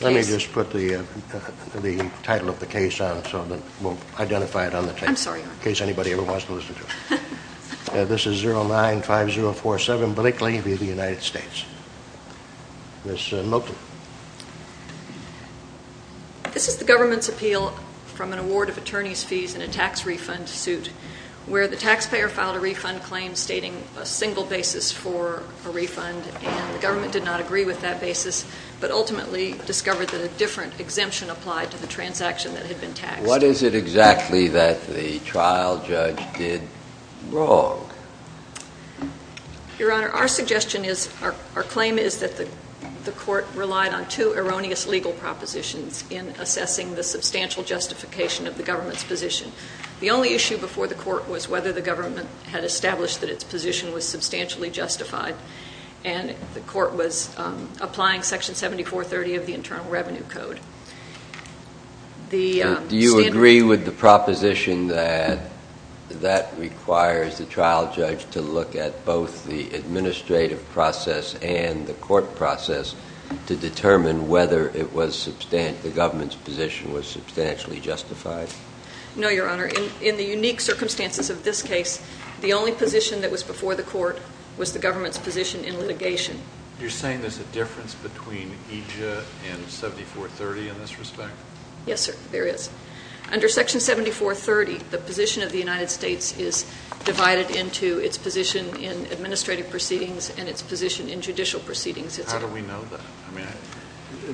Let me just put the title of the case on it so that we'll identify it on the tape in case anybody ever wants to listen to it. This is 095047 Blakely v. the United States. Ms. Milton. This is the government's appeal from an award of attorney's fees in a tax refund suit where the taxpayer filed a refund claim stating a single basis for a refund and the government did not agree with that basis, but ultimately discovered that a different exemption applied to the transaction that had been taxed. What is it exactly that the trial judge did wrong? Your Honor, our suggestion is, our claim is that the court relied on two erroneous legal propositions in assessing the substantial justification of the government's position. The only issue before the court was whether the government had established that its position was substantially justified, and the court was applying Section 7430 of the Internal Revenue Code. Do you agree with the proposition that that requires the trial judge to look at both the administrative process and the court process to determine whether the government's position was substantially justified? No, Your Honor. In the unique circumstances of this case, the only position that was before the court was the government's position in litigation. You're saying there's a difference between EJIA and 7430 in this respect? Yes, sir, there is. Under Section 7430, the position of the United States is divided into its position in administrative proceedings and its position in judicial proceedings. How do we know that? I mean,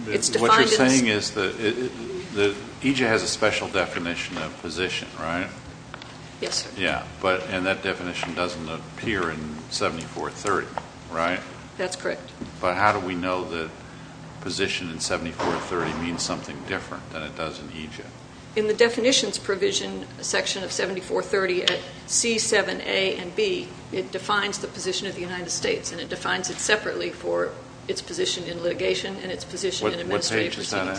it's defined in the... What you're saying is that EJIA has a special definition of position, right? Yes, sir. Yeah, and that definition doesn't appear in 7430, right? That's correct. But how do we know that position in 7430 means something different than it does in EJIA? In the definitions provision section of 7430 at C7A and B, it defines the position of the United States, and it defines it separately for its position in litigation and its position in administrative proceedings.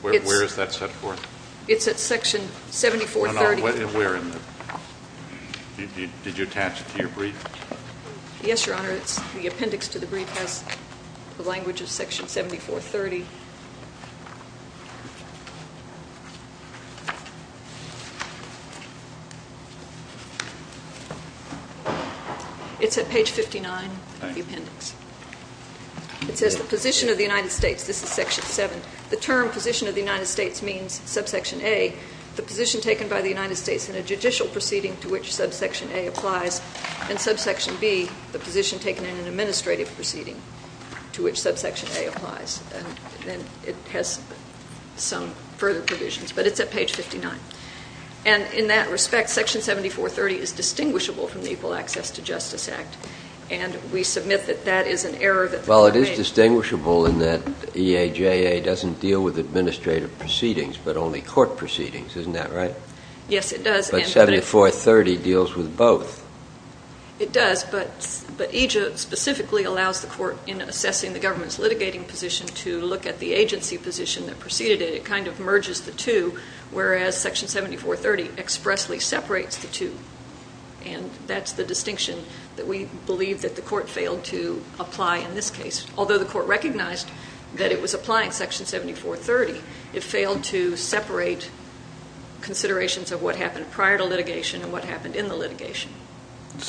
What page is that at? Where is that set for? It's at Section 7430. No, no, where in the... Did you attach it to your brief? Yes, Your Honor, it's... The appendix to the brief has the language of Section 7430. It's at page 59 of the appendix. It says the position of the United States. This is Section 7. The term position of the United States means subsection A, the position taken by the United States in a judicial proceeding to which subsection A applies, and subsection B, the position taken in an administrative proceeding to which subsection A applies. And it has some further provisions, but it's at page 59. And in that respect, Section 7430 is distinguishable from the Equal Access to Justice Act, and we submit that that is an error that... Well, it is distinguishable in that EJIA doesn't deal with administrative proceedings, but only court proceedings. Isn't that right? Yes, it does, and... But 7430 deals with both. It does, but EJIA specifically allows the court, in assessing the government's litigating position, to look at the agency position that preceded it. It kind of merges the two, whereas Section 7430 expressly separates the two. And that's the distinction that we believe that the court failed to apply in this case. Although the court recognized that it was applying Section 7430, it failed to separate considerations of what happened prior to litigation and what happened in the litigation.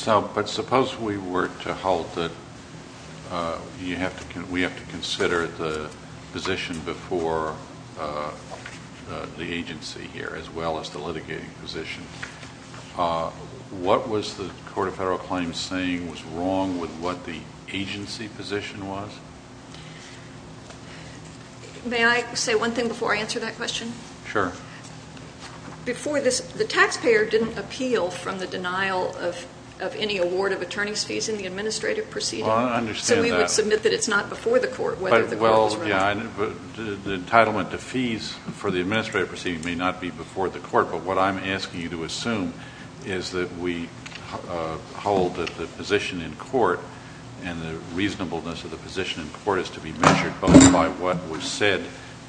But suppose we were to hold that you have to... We have to consider the position before the agency here, as well as the litigating position. What was the Court of Federal Claims saying was wrong with what the agency position was? May I say one thing before I answer that question? Sure. Before this, the taxpayer didn't appeal from the denial of any award of attorney's fees in the administrative proceeding. Well, I understand that. So we would submit that it's not before the court whether the... Well, yeah, the entitlement to fees for the administrative proceeding may not be before the court, but what I'm asking you to assume is that we hold that the position in court and the reasonableness of the position in court is to be measured both by what was said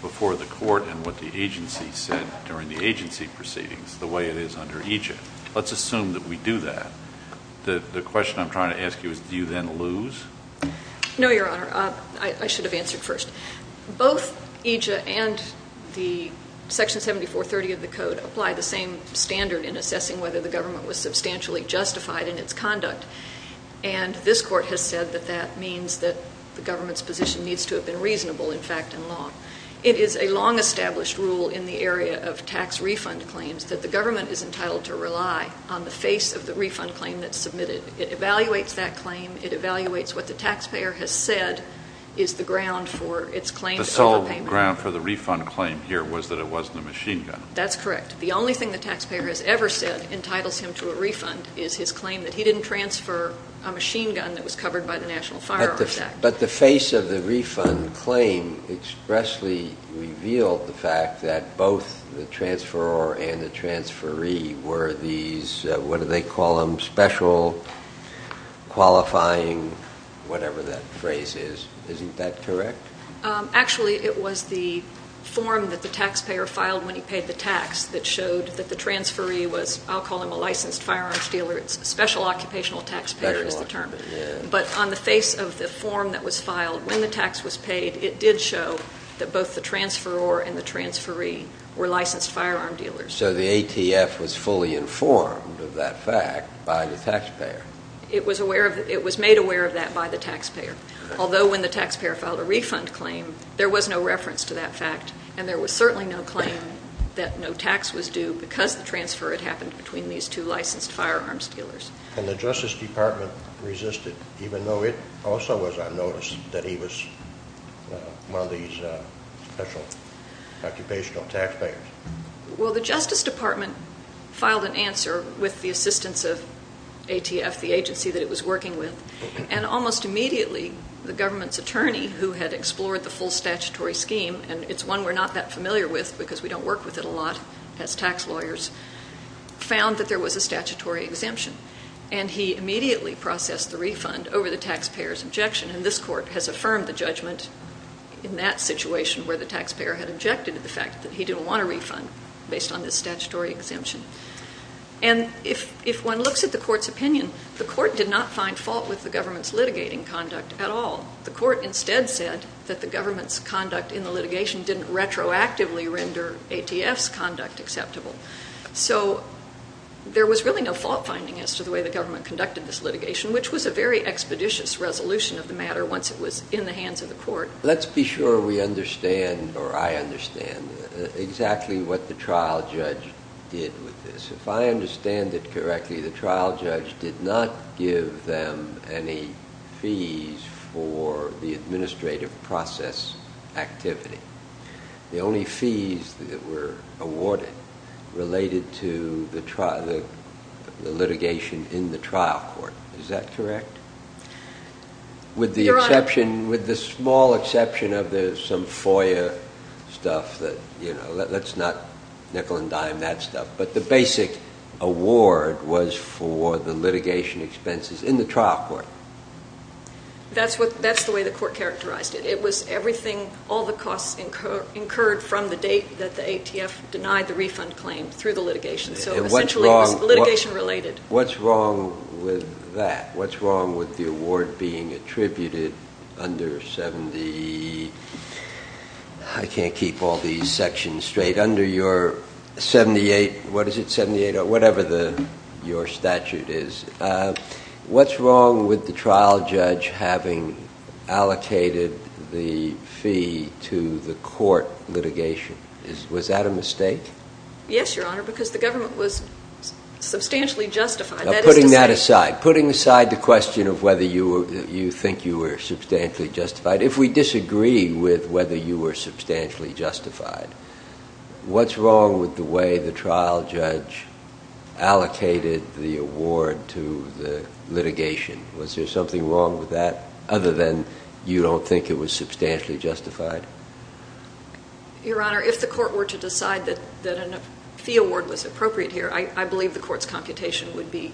before the court and what the agency said during the agency proceedings, the way it is under EJIA. Let's assume that we do that. The question I'm trying to ask you is, do you then lose? No, Your Honor. I should have answered first. Both EJIA and the Section 7430 of the Code apply the same standard in assessing whether the government was substantially justified in its conduct, and this court has said that that means that the government's position needs to have been reasonable, in fact, in law. It is a long-established rule in the area of tax refund claims that the government is entitled to rely on the face of the refund claim that's submitted. It evaluates that claim. It evaluates what the taxpayer has said is the ground for its claims of repayment. The sole ground for the refund claim here was that it wasn't a machine gun. That's correct. The only thing the taxpayer has ever said entitles him to a refund is his claim that he didn't transfer a machine gun that was covered by the National Firearms Act. But the face of the refund claim expressly revealed the fact that both the transferor and the transferee were these, what do they call them, special qualifying whatever that phrase is. Isn't that correct? Actually it was the form that the taxpayer filed when he paid the tax that showed that the transferee was, I'll call him a licensed firearms dealer, it's special occupational taxpayer is the term. But on the face of the form that was filed when the tax was paid, it did show that both the transferor and the transferee were licensed firearm dealers. So the ATF was fully informed of that fact by the taxpayer. It was made aware of that by the taxpayer. Although when the taxpayer filed a refund claim, there was no reference to that fact, and there was certainly no claim that no tax was due because the transfer had happened between these two licensed firearms dealers. And the Justice Department resisted even though it also was on notice that he was one of these special occupational taxpayers? Well the Justice Department filed an answer with the assistance of ATF, the agency that it was working with, and almost immediately the government's attorney who had explored the full statutory scheme, and it's one we're not that familiar with because we don't work with it a lot as tax lawyers, found that there was a statutory exemption. And he immediately processed the refund over the taxpayer's objection. And this court has affirmed the judgment in that situation where the taxpayer had objected to the fact that he didn't want a refund based on this statutory exemption. And if one looks at the court's opinion, the court did not find fault with the government's litigating conduct at all. The court instead said that the government's conduct in the ATF's conduct acceptable. So there was really no fault finding as to the way the government conducted this litigation, which was a very expeditious resolution of the matter once it was in the hands of the court. Let's be sure we understand, or I understand, exactly what the trial judge did with this. If I understand it correctly, the trial judge did not give them any fees for the administrative process activity. The only fees that were awarded related to the litigation in the trial court. Is that correct? With the exception, with the small exception of some FOIA stuff that, you know, let's not nickel and dime that stuff. But the basic award was for the litigation expenses in the trial court. That's the way the court characterized it. It was everything, all the costs incurred from the date that the ATF denied the refund claim through the litigation. So essentially it was litigation related. What's wrong with that? What's wrong with the award being attributed under 70, I can't keep all these sections straight, under your 78, what is it, 78 or whatever your statute is, what's wrong with the trial judge having allocated the fee to the court litigation? Was that a mistake? Yes, Your Honor, because the government was substantially justified. Putting that aside, putting aside the question of whether you think you were substantially justified, if we disagree with whether you were substantially justified, what's wrong with the way the trial judge allocated the award to the litigation? Was there something wrong with that other than you don't think it was substantially justified? Your Honor, if the court were to decide that a fee award was appropriate here, I believe the court's computation would be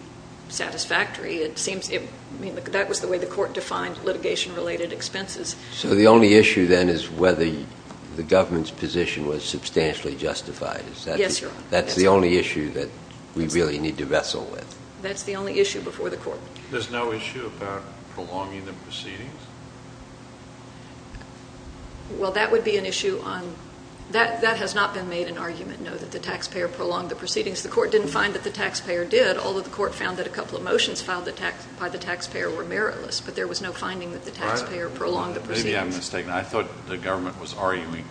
satisfactory. It seems, I mean, that was the way the court defined litigation related expenses. So the only issue then is whether the government's position was substantially justified. Yes, Your Honor. That's the only issue that we really need to vessel with. That's the only issue before the court. There's no issue about prolonging the proceedings? Well that would be an issue on, that has not been made an argument, no, that the taxpayer prolonged the proceedings. The court didn't find that the taxpayer did, although the court found that a couple of motions filed by the taxpayer were meritless, but there was no Maybe I'm mistaken. I thought the government was arguing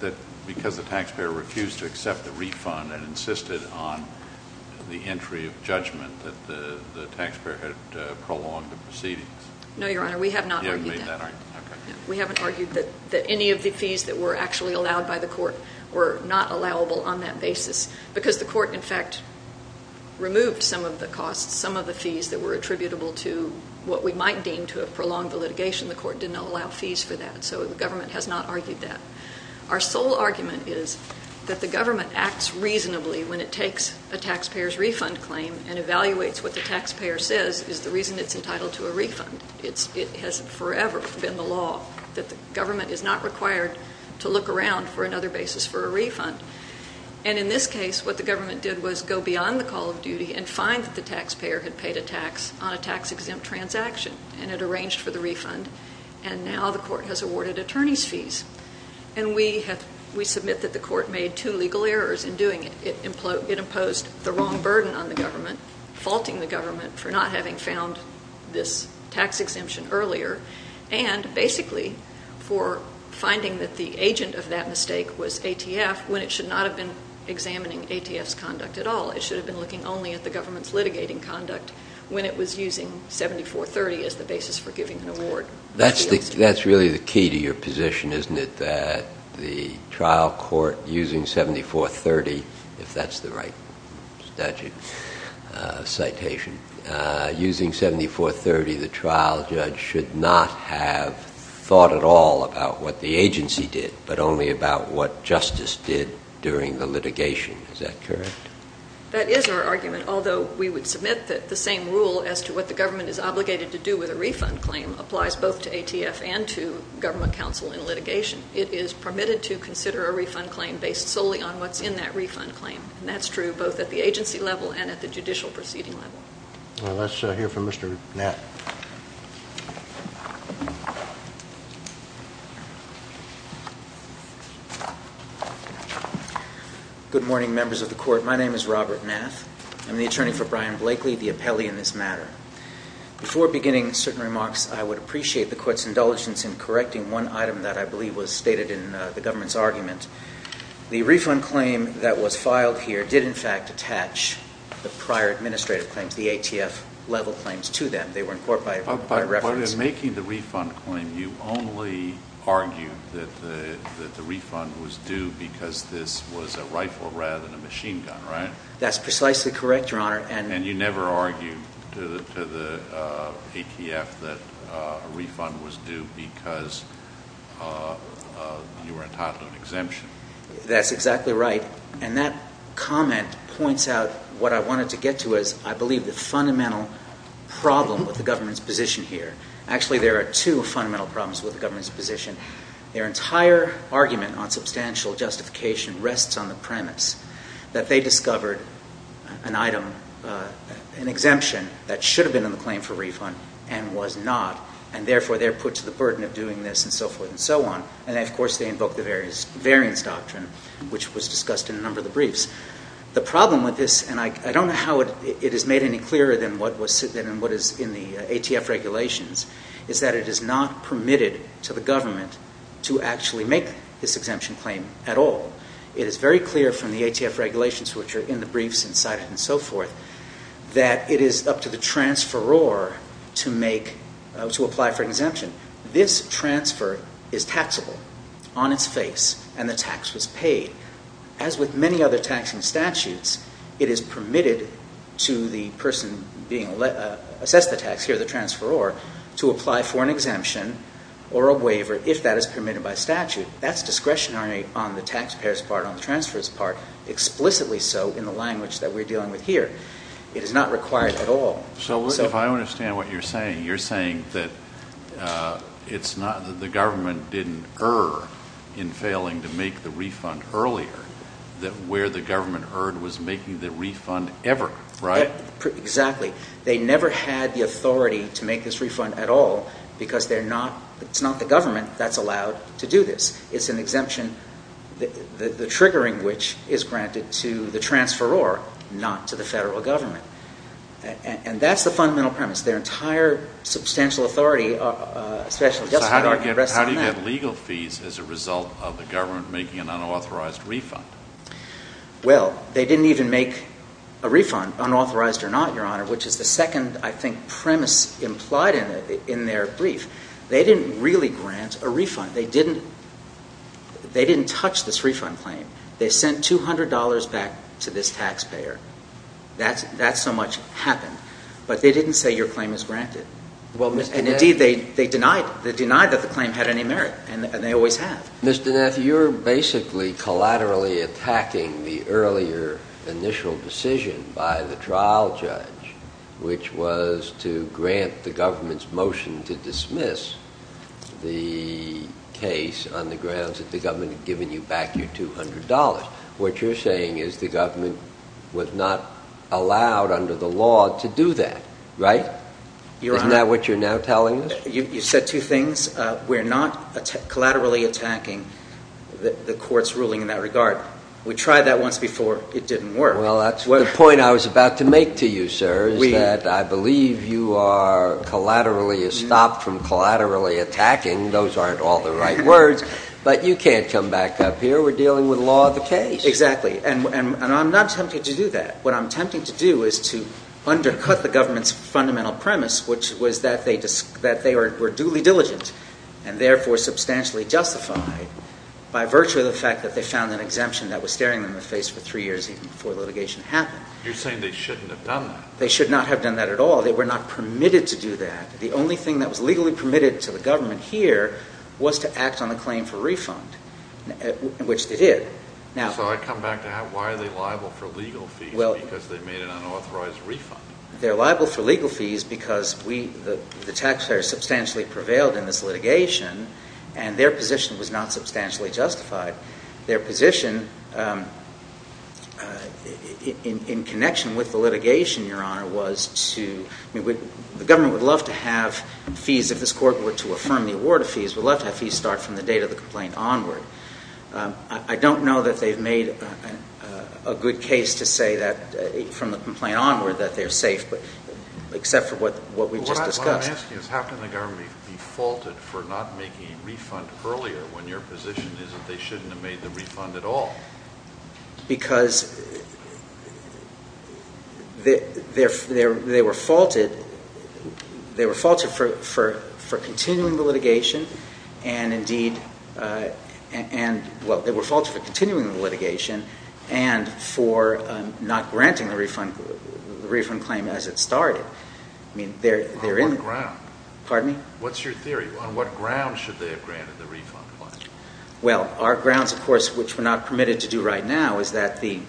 that because the taxpayer refused to accept the refund and insisted on the entry of judgment that the taxpayer had prolonged the proceedings. No, Your Honor, we have not argued that. We haven't argued that any of the fees that were actually allowed by the court were not allowable on that basis because the court, in fact, removed some of the costs, some of the fees that were attributable to what we might deem to have prolonged the litigation. The court did not allow fees for that, so the government has not argued that. Our sole argument is that the government acts reasonably when it takes a taxpayer's refund claim and evaluates what the taxpayer says is the reason it's entitled to a refund. It has forever been the law that the government is not required to look around for another basis for a refund. And in this case, what the government did was go beyond the call of duty and find that the taxpayer had paid a tax on a tax-exempt transaction and had arranged for the refund, and now the court has awarded attorneys' fees. And we submit that the court made two legal errors in doing it. It imposed the wrong burden on the government, faulting the government for not having found this tax exemption earlier, and basically for finding that the agent of that mistake was ATF when it should not have been examining ATF's conduct at all. It should have been looking only at the government's litigating conduct when it was using 7430 as the basis for giving an award. That's really the key to your position, isn't it, that the trial court, using 7430, if that's the right statute, citation, using 7430, the trial judge should not have thought at all about what the agency did, but only about what justice did during the litigation. Is that correct? That is our argument, although we would submit that the same rule as to what the government is obligated to do with a refund claim applies both to ATF and to government counsel in litigation. It is permitted to consider a refund claim based solely on what's in that refund claim, and that's true both at the agency level and at the judicial proceeding level. Let's hear from Mr. Gnatt. Good morning, members of the Court. My name is Robert Gnatt. I'm the attorney for Brian Blakely, the appellee in this matter. Before beginning certain remarks, I would appreciate the Court's indulgence in correcting one item that I believe was stated in the government's argument. The refund claim that was filed here did, in fact, attach the prior administrative claims, the ATF-level claims, to them. But in making the refund claim, you only argued that the refund was due because this was a rifle rather than a machine gun, right? That's precisely correct, Your Honor. And you never argued to the ATF that a refund was due because you were entitled to an exemption? That's exactly right, and that comment points out what I wanted to get to is I believe the problem with the government's position here—actually, there are two fundamental problems with the government's position. Their entire argument on substantial justification rests on the premise that they discovered an item, an exemption, that should have been in the claim for refund and was not, and therefore they're put to the burden of doing this and so forth and so on, and of course they invoked the variance doctrine, which was discussed in a number of the briefs. The problem with this—and I don't know how it is made any clearer than what is in the ATF regulations—is that it is not permitted to the government to actually make this exemption claim at all. It is very clear from the ATF regulations, which are in the briefs and cited and so forth, that it is up to the transferor to make—to apply for an exemption. This transfer is taxable on its face, and the tax was paid. As with many other taxing statutes, it is permitted to the person being—assess the tax here, the transferor, to apply for an exemption or a waiver if that is permitted by statute. That's discretionary on the taxpayer's part, on the transferor's part, explicitly so in the language that we're dealing with here. It is not required at all. So if I understand what you're saying, you're saying that it's not—that the government didn't err in failing to make the refund earlier, that where the government erred was making the refund ever, right? Exactly. They never had the authority to make this refund at all because they're not—it's not the government that's allowed to do this. It's an exemption, the triggering which is granted to the transferor, not to the federal government. And that's the fundamental premise. Their entire substantial authority, especially just— So how do you get legal fees as a result of the government making an unauthorized refund? Well, they didn't even make a refund, unauthorized or not, Your Honor, which is the second, I think, premise implied in their brief. They didn't really grant a refund. They didn't—they didn't touch this refund claim. They sent $200 back to this taxpayer. That's so much happened. But they didn't say your claim is granted. And indeed, they denied it. They denied that the claim had any merit, and they always have. Mr. Naffi, you're basically collaterally attacking the earlier initial decision by the trial judge, which was to grant the government's motion to dismiss the case on the grounds that the government had given you back your $200. What you're saying is the government was not allowed under the law to do that, right? Isn't that what you're now telling us? You said two things. We're not collaterally attacking the court's ruling in that regard. We tried that once before. It didn't work. Well, that's the point I was about to make to you, sir, is that I believe you are collaterally estopped from collaterally attacking. Those aren't all the right words. But you can't come back up here. We're dealing with law of the case. Exactly. And I'm not tempted to do that. What I'm tempted to do is to undercut the government's fundamental premise, which was that they were duly diligent and therefore substantially justified by virtue of the fact that they found an exemption that was staring them in the face for three years even before litigation happened. You're saying they shouldn't have done that. They should not have done that at all. They were not permitted to do that. The only thing that was legally permitted to the government here was to act on a claim for refund, which they did. So I come back to that. Why are they liable for legal fees because they made an unauthorized refund? They're liable for legal fees because the taxpayers substantially prevailed in this litigation and their position was not substantially justified. Their position in connection with the litigation, Your Honor, was to—the government would love to have fees if this court were to affirm the award of fees, would love to have fees start from the date of the complaint onward. I don't know that they've made a good case to say that from the complaint onward that they're safe, except for what we just discussed. What I'm asking is how can the government be faulted for not making a refund earlier when your position is that they shouldn't have made the refund at all? Because they were faulted for continuing the litigation and indeed—well, they were faulted for continuing the litigation and for not granting the refund claim as it started. I mean, they're in— On what ground? Pardon me? What's your theory? On what grounds should they have granted the refund claim? Well, our grounds, of course, which we're not permitted to do right now is that the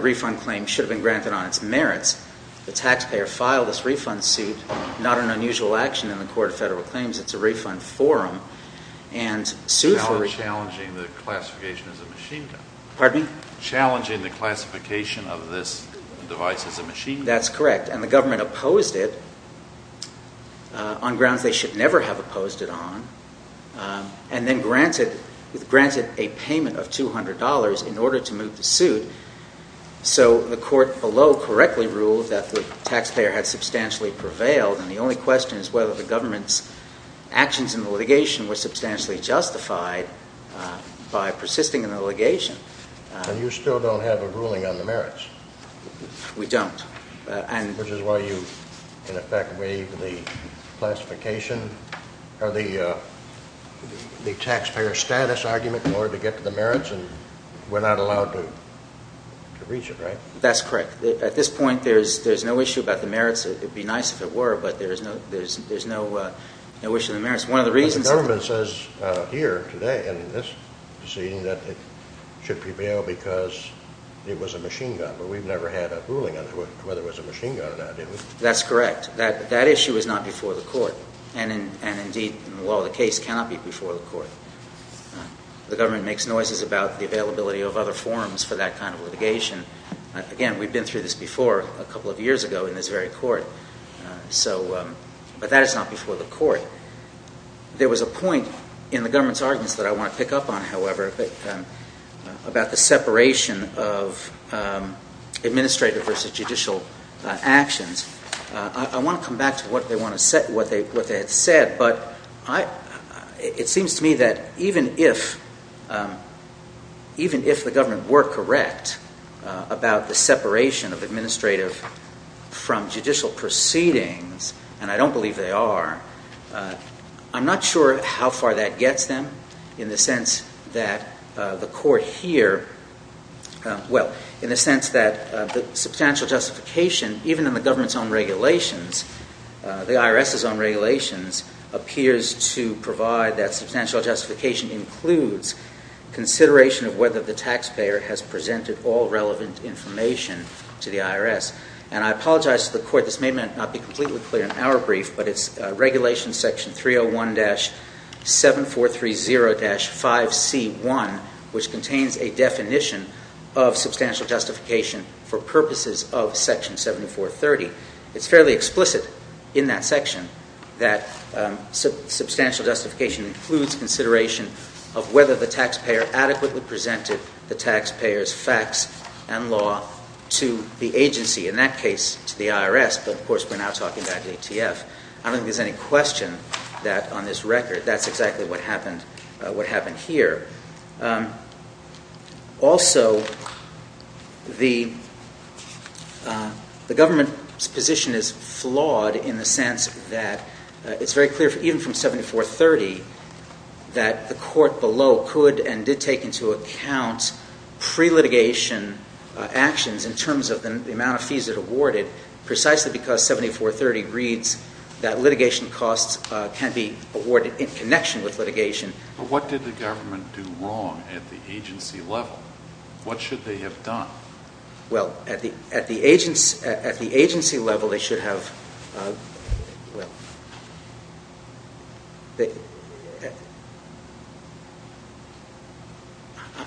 refund claim should have been granted on its merits. The taxpayer filed this refund suit, not an unusual action in the Court of Federal Claims. It's a refund forum and— Challenging the classification as a machine gun. Pardon me? Challenging the classification of this device as a machine gun. That's correct. And the government opposed it on grounds they should never have opposed it on and then granted a payment of $200 in order to move the suit. So the court below correctly ruled that the taxpayer had substantially prevailed and the only question is whether the government's actions in the litigation were substantially justified by persisting in the litigation. And you still don't have a ruling on the merits? We don't. Which is why you, in effect, waive the classification or the taxpayer status argument in order to get to the merits and we're not allowed to reach it, right? That's correct. At this point, there's no issue about the merits. It would be nice if it were, but there's no issue on the merits. One of the reasons— But the government says here today in this decision that it should prevail because it never had a ruling on whether it was a machine gun or not, did it? That's correct. That issue is not before the court and, indeed, the law of the case cannot be before the court. The government makes noises about the availability of other forms for that kind of litigation. Again, we've been through this before a couple of years ago in this very court, but that is not before the court. There was a point in the government's arguments that I want to pick up on, however, about the separation of administrative versus judicial actions. I want to come back to what they had said, but it seems to me that even if the government were correct about the separation of administrative from judicial proceedings, and I don't believe they are, I'm not sure how far that gets them in the sense that the court here—well, in the sense that the substantial justification, even in the government's own regulations, the IRS's own regulations, appears to provide that substantial justification includes consideration of whether the taxpayer has presented all relevant information to the IRS. And I apologize to the court. This may not be completely clear in our brief, but it's Regulation Section 301-7430-5C1, which contains a definition of substantial justification for purposes of Section 7430. It's fairly explicit in that section that substantial justification includes consideration of whether the taxpayer adequately presented the taxpayer's facts and law to the agency, in that case to the IRS, but of course we're now talking about ATF. I don't think there's any question that on this record that's exactly what happened here. Also, the government's position is flawed in the sense that it's very clear, even from Section 7430, that the court below could and did take into account pre-litigation actions in terms of the amount of fees it awarded, precisely because 7430 reads that litigation costs can be awarded in connection with litigation. What did the government do wrong at the agency level? What should they have done? Well, at the agency level, they should have, well,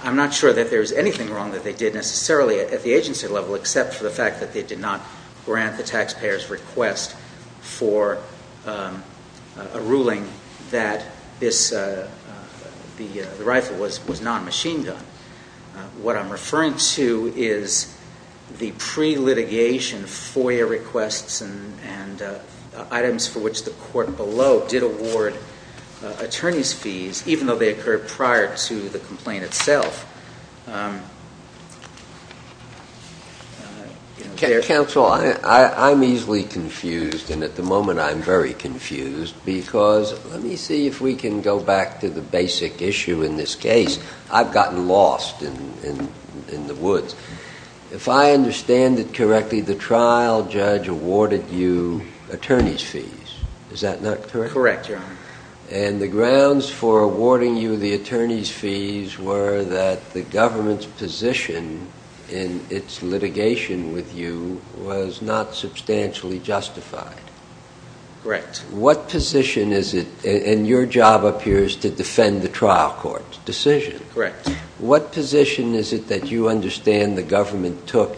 I'm not sure that there's anything wrong that they did necessarily at the agency level except for the fact that they did not grant the taxpayer's request for a ruling that the rifle was not a machine gun. What I'm referring to is the pre-litigation FOIA requests and items for which the court below did award attorney's fees, even though they occurred prior to the complaint itself. Counsel, I'm easily confused and at the moment I'm very confused because, let me see if we can go back to the basic issue in this case, I've gotten lost in the woods. If I understand it correctly, the trial judge awarded you attorney's fees, is that not correct? Correct, Your Honor. And the grounds for awarding you the attorney's fees were that the government's position in its litigation with you was not substantially justified? Correct. What position is it, and your job up here is to defend the trial court's decision. Correct. What position is it that you understand the government took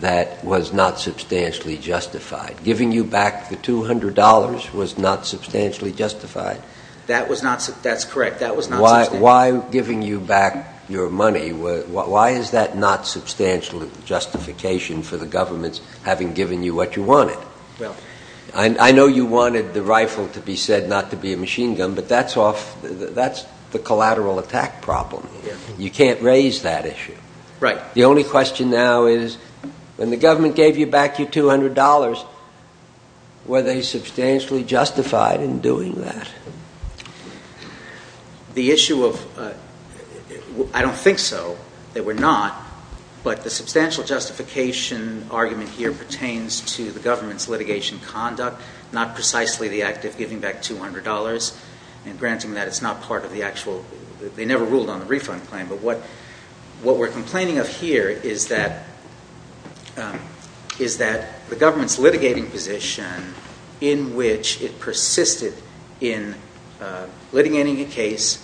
that was not substantially justified? Giving you back the $200 was not substantially justified? That was not, that's correct, that was not substantially justified. Why giving you back your money, why is that not substantial justification for the government having given you what you wanted? Well, I know you wanted the rifle to be said not to be a machine gun, but that's off, that's the collateral attack problem. You can't raise that issue. Right. The only question now is when the government gave you back your $200, were they substantially justified in doing that? The issue of, I don't think so, they were not, but the substantial justification argument here pertains to the government's litigation conduct, not precisely the act of giving back $200, and granting that it's not part of the actual, they never ruled on the refund claim, but what we're complaining of here is that the government's litigating position in which it persisted in litigating a case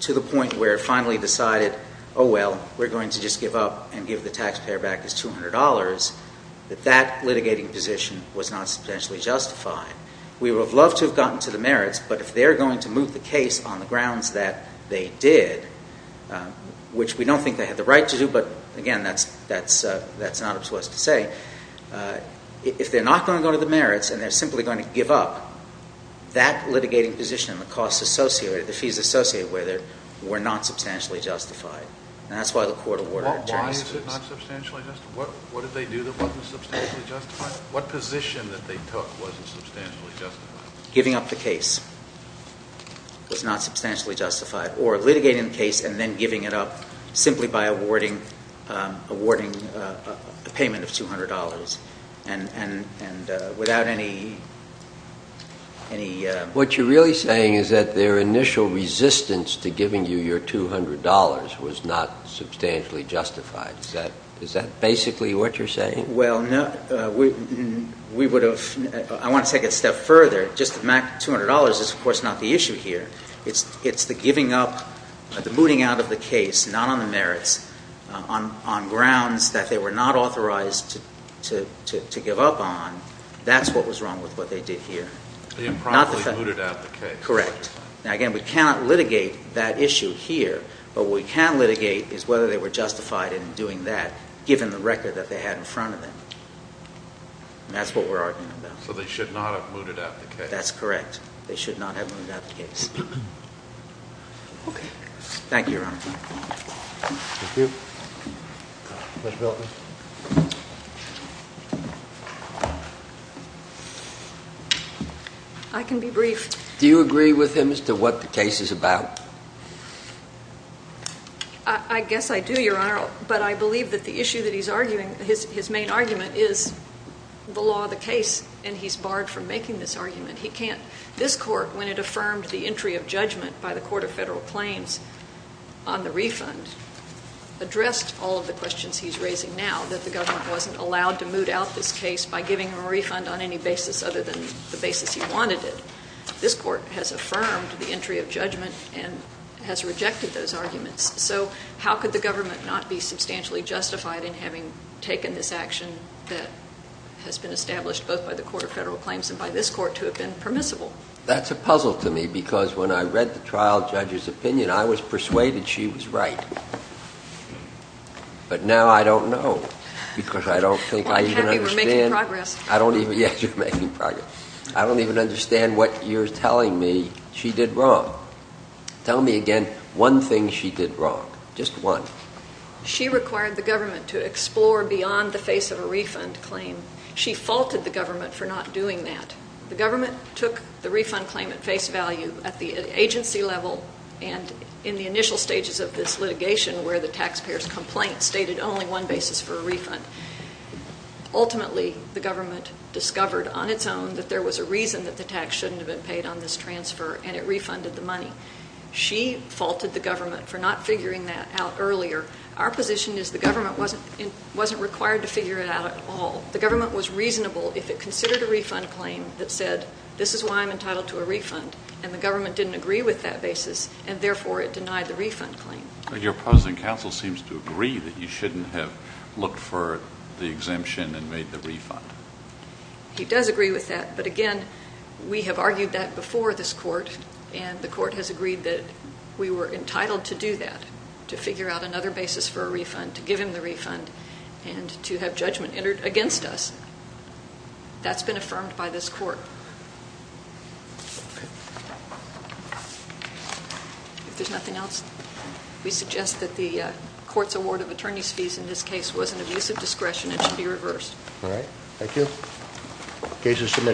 to the point where it finally decided, oh well, we're going to just give up and give the taxpayer back his $200, that that litigating position was not substantially justified. We would have loved to have gotten to the merits, but if they're going to move the case on the grounds that they did, which we don't think they had the right to do, but again, that's not up to us to say, if they're not going to go to the merits and they're simply going to give up, that litigating position and the costs associated, the fees associated with it, were not substantially justified. And that's why the court awarded attorneys. Why is it not substantially justified? What did they do that wasn't substantially justified? What position that they took wasn't substantially justified? Giving up the case was not substantially justified. Or litigating the case and then giving it up simply by awarding a payment of $200. And without any... What you're really saying is that their initial resistance to giving you your $200 was not substantially justified. Is that basically what you're saying? Well, no. We would have... I want to take it a step further. Just the $200 is, of course, not the issue here. It's the giving up, the mooting out of the case, not on the merits, on grounds that they were not authorized to give up on. That's what was wrong with what they did here. They improperly mooted out the case. Correct. Now, again, we cannot litigate that issue here. But what we can litigate is whether they were justified in doing that, given the record that they had in front of them. And that's what we're arguing about. So they should not have mooted out the case. That's correct. They should not have mooted out the case. Okay. Thank you, Your Honor. Thank you. Judge Belton. I can be briefed. Do you agree with him as to what the case is about? I guess I do, Your Honor. But I believe that the issue that he's arguing, his main argument, is the law of the case. And he's barred from making this argument. He can't... This Court, when it affirmed the entry of judgment by the Court of Federal Claims on the refund, addressed all of the questions he's raising now, that the government wasn't allowed to This Court has affirmed the entry of judgment and has rejected those arguments. So how could the government not be substantially justified in having taken this action that has been established both by the Court of Federal Claims and by this Court to have been permissible? That's a puzzle to me, because when I read the trial judge's opinion, I was persuaded she was right. But now I don't know, because I don't think I even understand... Well, I'm happy we're making progress. I don't even... Yes, you're making progress. I don't even understand what you're telling me she did wrong. Tell me again one thing she did wrong, just one. She required the government to explore beyond the face of a refund claim. She faulted the government for not doing that. The government took the refund claim at face value at the agency level and in the initial stages of this litigation where the taxpayers' complaint stated only one basis for a refund. Ultimately, the government discovered on its own that there was a reason that the tax shouldn't have been paid on this transfer, and it refunded the money. She faulted the government for not figuring that out earlier. Our position is the government wasn't required to figure it out at all. The government was reasonable if it considered a refund claim that said, this is why I'm entitled to a refund, and the government didn't agree with that basis, and therefore it denied the refund claim. Your opposing counsel seems to agree that you shouldn't have looked for the exemption and made the refund. He does agree with that, but again, we have argued that before this court, and the court has agreed that we were entitled to do that, to figure out another basis for a refund, to give him the refund, and to have judgment entered against us. That's been affirmed by this court. Okay. If there's nothing else, we suggest that the court's award of attorney's fees in this case was an abuse of discretion and should be reversed. All right. Thank you. Case is submitted.